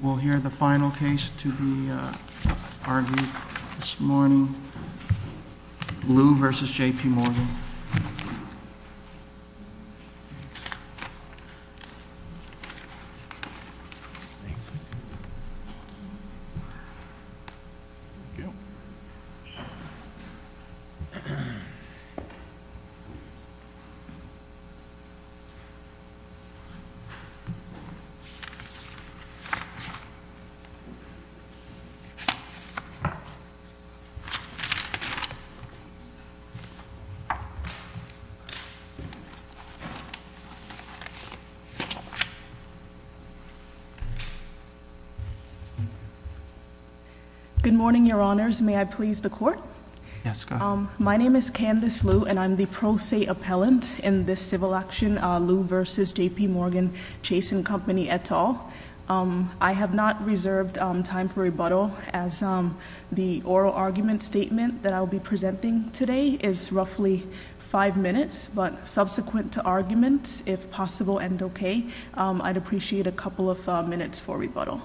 We'll hear the final case to be argued this morning, Lue v. JPMorgan. Good morning, your honors. May I please the court? Yes, go ahead. My name is Candice Lue and I'm the pro se appellant in this civil action, Lue v. JPMorgan Chase & Company et al. I have not reserved time for rebuttal as the oral argument statement that I'll be presenting today is roughly five minutes. But subsequent to arguments, if possible and okay, I'd appreciate a couple of minutes for rebuttal.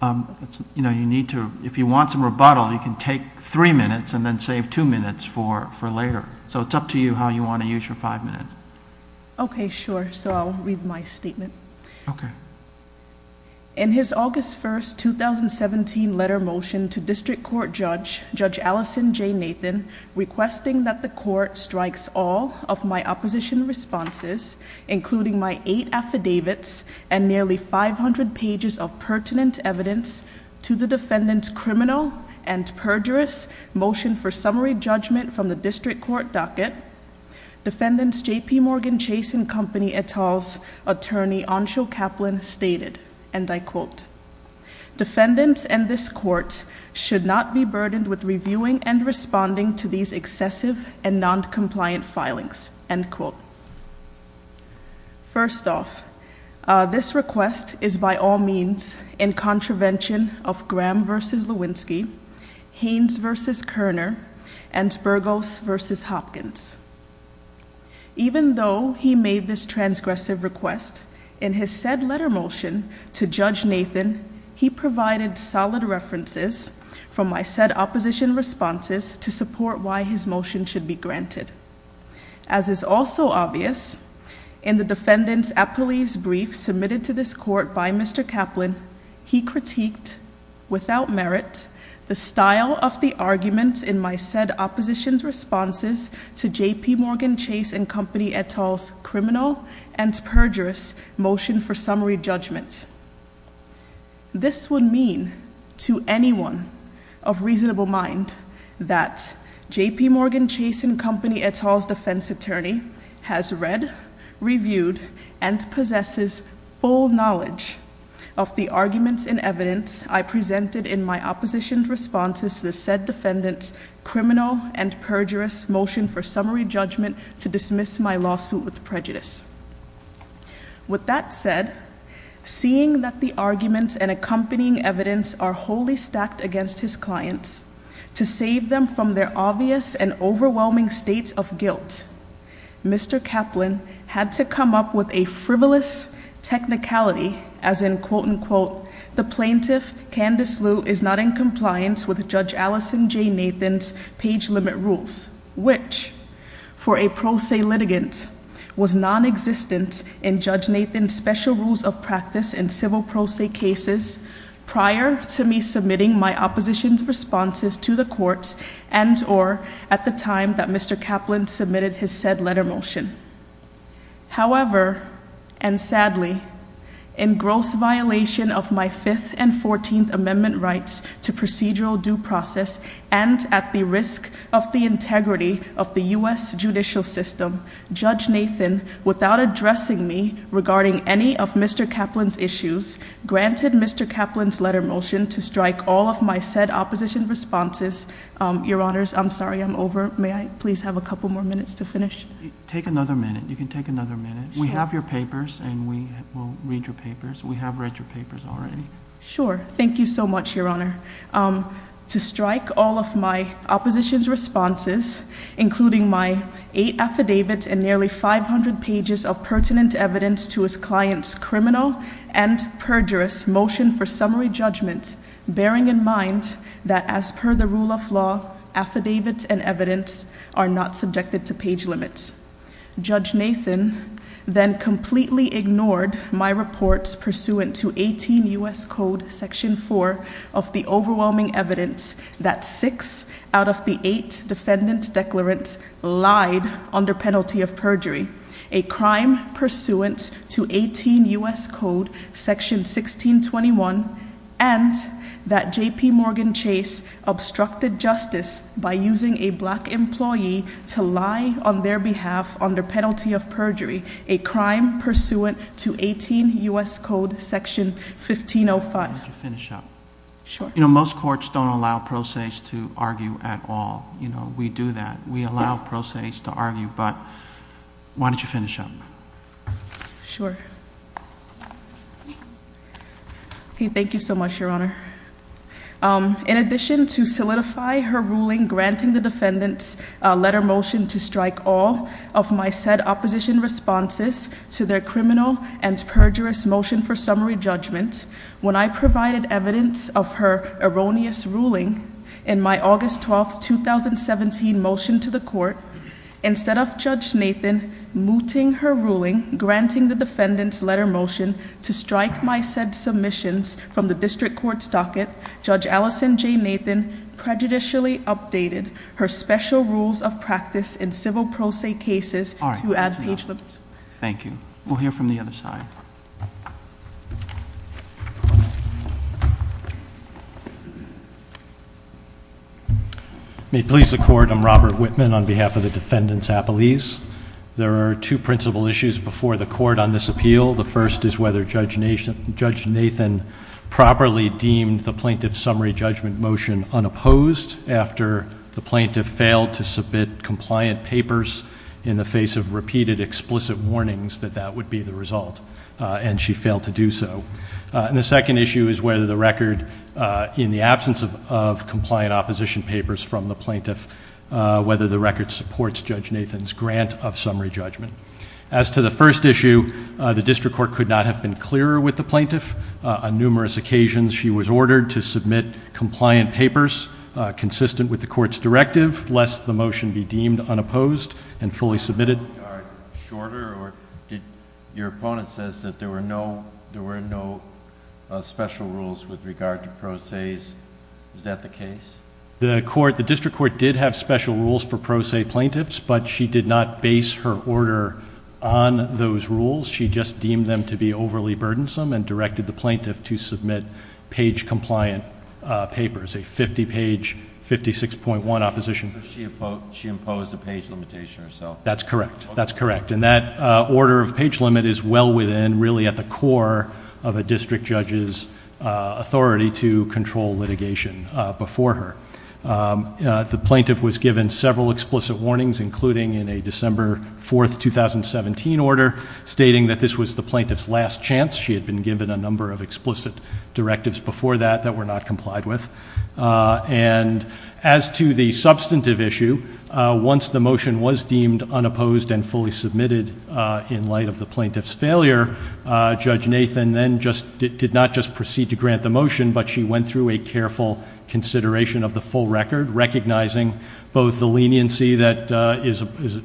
If you want some rebuttal, you can take three minutes and then save two minutes for later. So it's up to you how you want to use your five minutes. Okay, sure. So I'll read my statement. Okay. In his August 1st, 2017 letter motion to district court judge, Judge Allison J. Nathan, requesting that the court strikes all of my opposition responses, including my eight affidavits and nearly 500 pages of pertinent evidence to the defendant's criminal and perjurous motion for summary judgment from the district court docket. Defendants JPMorgan Chase & Company et al's attorney Anshul Kaplan stated, and I quote. Defendants and this court should not be burdened with reviewing and responding to these excessive and non-compliant filings, end quote. First off, this request is by all means in contravention of Graham versus Lewinsky. Haynes versus Kerner and Burgos versus Hopkins. Even though he made this transgressive request, in his said letter motion to Judge Nathan, he provided solid references from my said opposition responses to support why his motion should be granted. As is also obvious, in the defendant's appellee's brief submitted to this court by Mr. Kaplan, he critiqued without merit the style of the arguments in my said opposition's responses to JPMorgan Chase & Company et al's criminal and perjurous motion for summary judgment. This would mean to anyone of reasonable mind that JPMorgan Chase & Company et al's defense attorney has read, reviewed, and possesses full knowledge of the arguments and evidence I presented in my opposition's responses to the said defendant's criminal and perjurous motion for summary judgment to dismiss my lawsuit with prejudice. With that said, seeing that the arguments and accompanying evidence are wholly stacked against his clients, to save them from their obvious and overwhelming states of guilt, Mr. Kaplan had to come up with a frivolous technicality, as in, quote, unquote, the plaintiff, Candace Lew, is not in compliance with Judge Allison J. Nathan's page limit rules, which, for a pro se litigant, was nonexistent in Judge Nathan's special rules of practice in civil pro se cases prior to me submitting my opposition's responses to the court and or at the time that Mr. Kaplan submitted his said letter motion. However, and sadly, in gross violation of my fifth and fourteenth amendment rights to procedural due process and at the risk of the integrity of the US judicial system, Judge Nathan, without addressing me regarding any of Mr. Kaplan's issues, granted Mr. Kaplan's letter motion to strike all of my said opposition responses. Your honors, I'm sorry, I'm over. May I please have a couple more minutes to finish? Take another minute. You can take another minute. We have your papers and we will read your papers. We have read your papers already. Sure, thank you so much, your honor. To strike all of my opposition's responses, including my eight affidavits and nearly 500 pages of pertinent evidence to his client's criminal and perjurous motion for summary judgment, bearing in mind that as per the rule of law, affidavits and evidence are not subjected to page limits. Judge Nathan then completely ignored my reports pursuant to 18 US Code Section 4 of the overwhelming evidence that six out of the eight defendant's declarants lied under penalty of perjury, a crime pursuant to 18 US Code Section 1621, and that JP Morgan Chase obstructed justice by using a black employee to lie on their behalf under penalty of perjury, a crime pursuant to 18 US Code Section 1505. I want you to finish up. Sure. Most courts don't allow pro se's to argue at all. We do that. We allow pro se's to argue, but why don't you finish up? Sure. Okay, thank you so much, your honor. In addition to solidify her ruling granting the defendant's letter motion to strike all of my said opposition responses to their criminal and perjurous motion for summary judgment. When I provided evidence of her erroneous ruling in my August 12th, 2017 motion to the court, instead of Judge Nathan mooting her ruling, granting the defendant's letter motion to strike my said submissions from the district court's docket. Judge Allison J Nathan prejudicially updated her special rules of practice in civil pro se cases to add page limits. Thank you. We'll hear from the other side. May it please the court, I'm Robert Whitman on behalf of the defendant's appellees. There are two principle issues before the court on this appeal. The first is whether Judge Nathan properly deemed the plaintiff's summary judgment motion unopposed after the plaintiff failed to submit compliant papers in the face of repeated explicit warnings that that would be the result. And she failed to do so. And the second issue is whether the record in the absence of compliant opposition papers from the plaintiff, whether the record supports Judge Nathan's grant of summary judgment. As to the first issue, the district court could not have been clearer with the plaintiff. On numerous occasions, she was ordered to submit compliant papers consistent with the court's directive, lest the motion be deemed unopposed and fully submitted. Your opponent says that there were no special rules with regard to pro se's. Is that the case? The court, the district court did have special rules for pro se plaintiffs, but she did not base her order on those rules. She just deemed them to be overly burdensome and directed the plaintiff to submit page compliant papers. A 50 page, 56.1 opposition. She imposed a page limitation herself. That's correct. That's correct. And that order of page limit is well within, really at the core of a district judge's authority to control litigation before her. The plaintiff was given several explicit warnings, including in a December 4th, 2017 order stating that this was the plaintiff's last chance. She had been given a number of explicit directives before that that were not complied with. And as to the substantive issue, once the motion was deemed unopposed and fully submitted in light of the plaintiff's failure, Judge Nathan then did not just proceed to grant the motion, but she went through a careful consideration of the full record, recognizing both the leniency that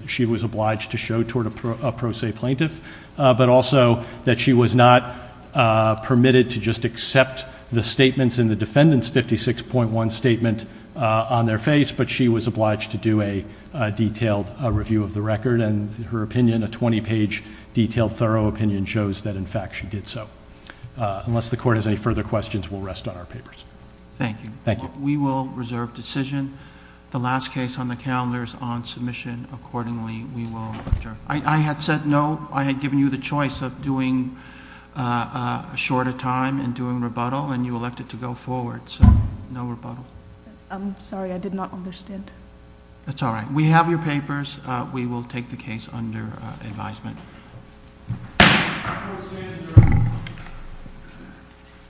she was obliged to show toward a pro se plaintiff, but also that she was not permitted to just accept the statements in the defendant's 56.1 statement on their face, but she was obliged to do a detailed review of the record. And her opinion, a 20 page detailed thorough opinion, shows that in fact she did so. Unless the court has any further questions, we'll rest on our papers. Thank you. Thank you. We will reserve decision. The last case on the calendar is on submission. Accordingly, we will adjourn. I had said no. I had given you the choice of doing a shorter time and doing rebuttal, and you elected to go forward, so no rebuttal. I'm sorry, I did not understand. That's all right. We have your papers. We will take the case under advisement.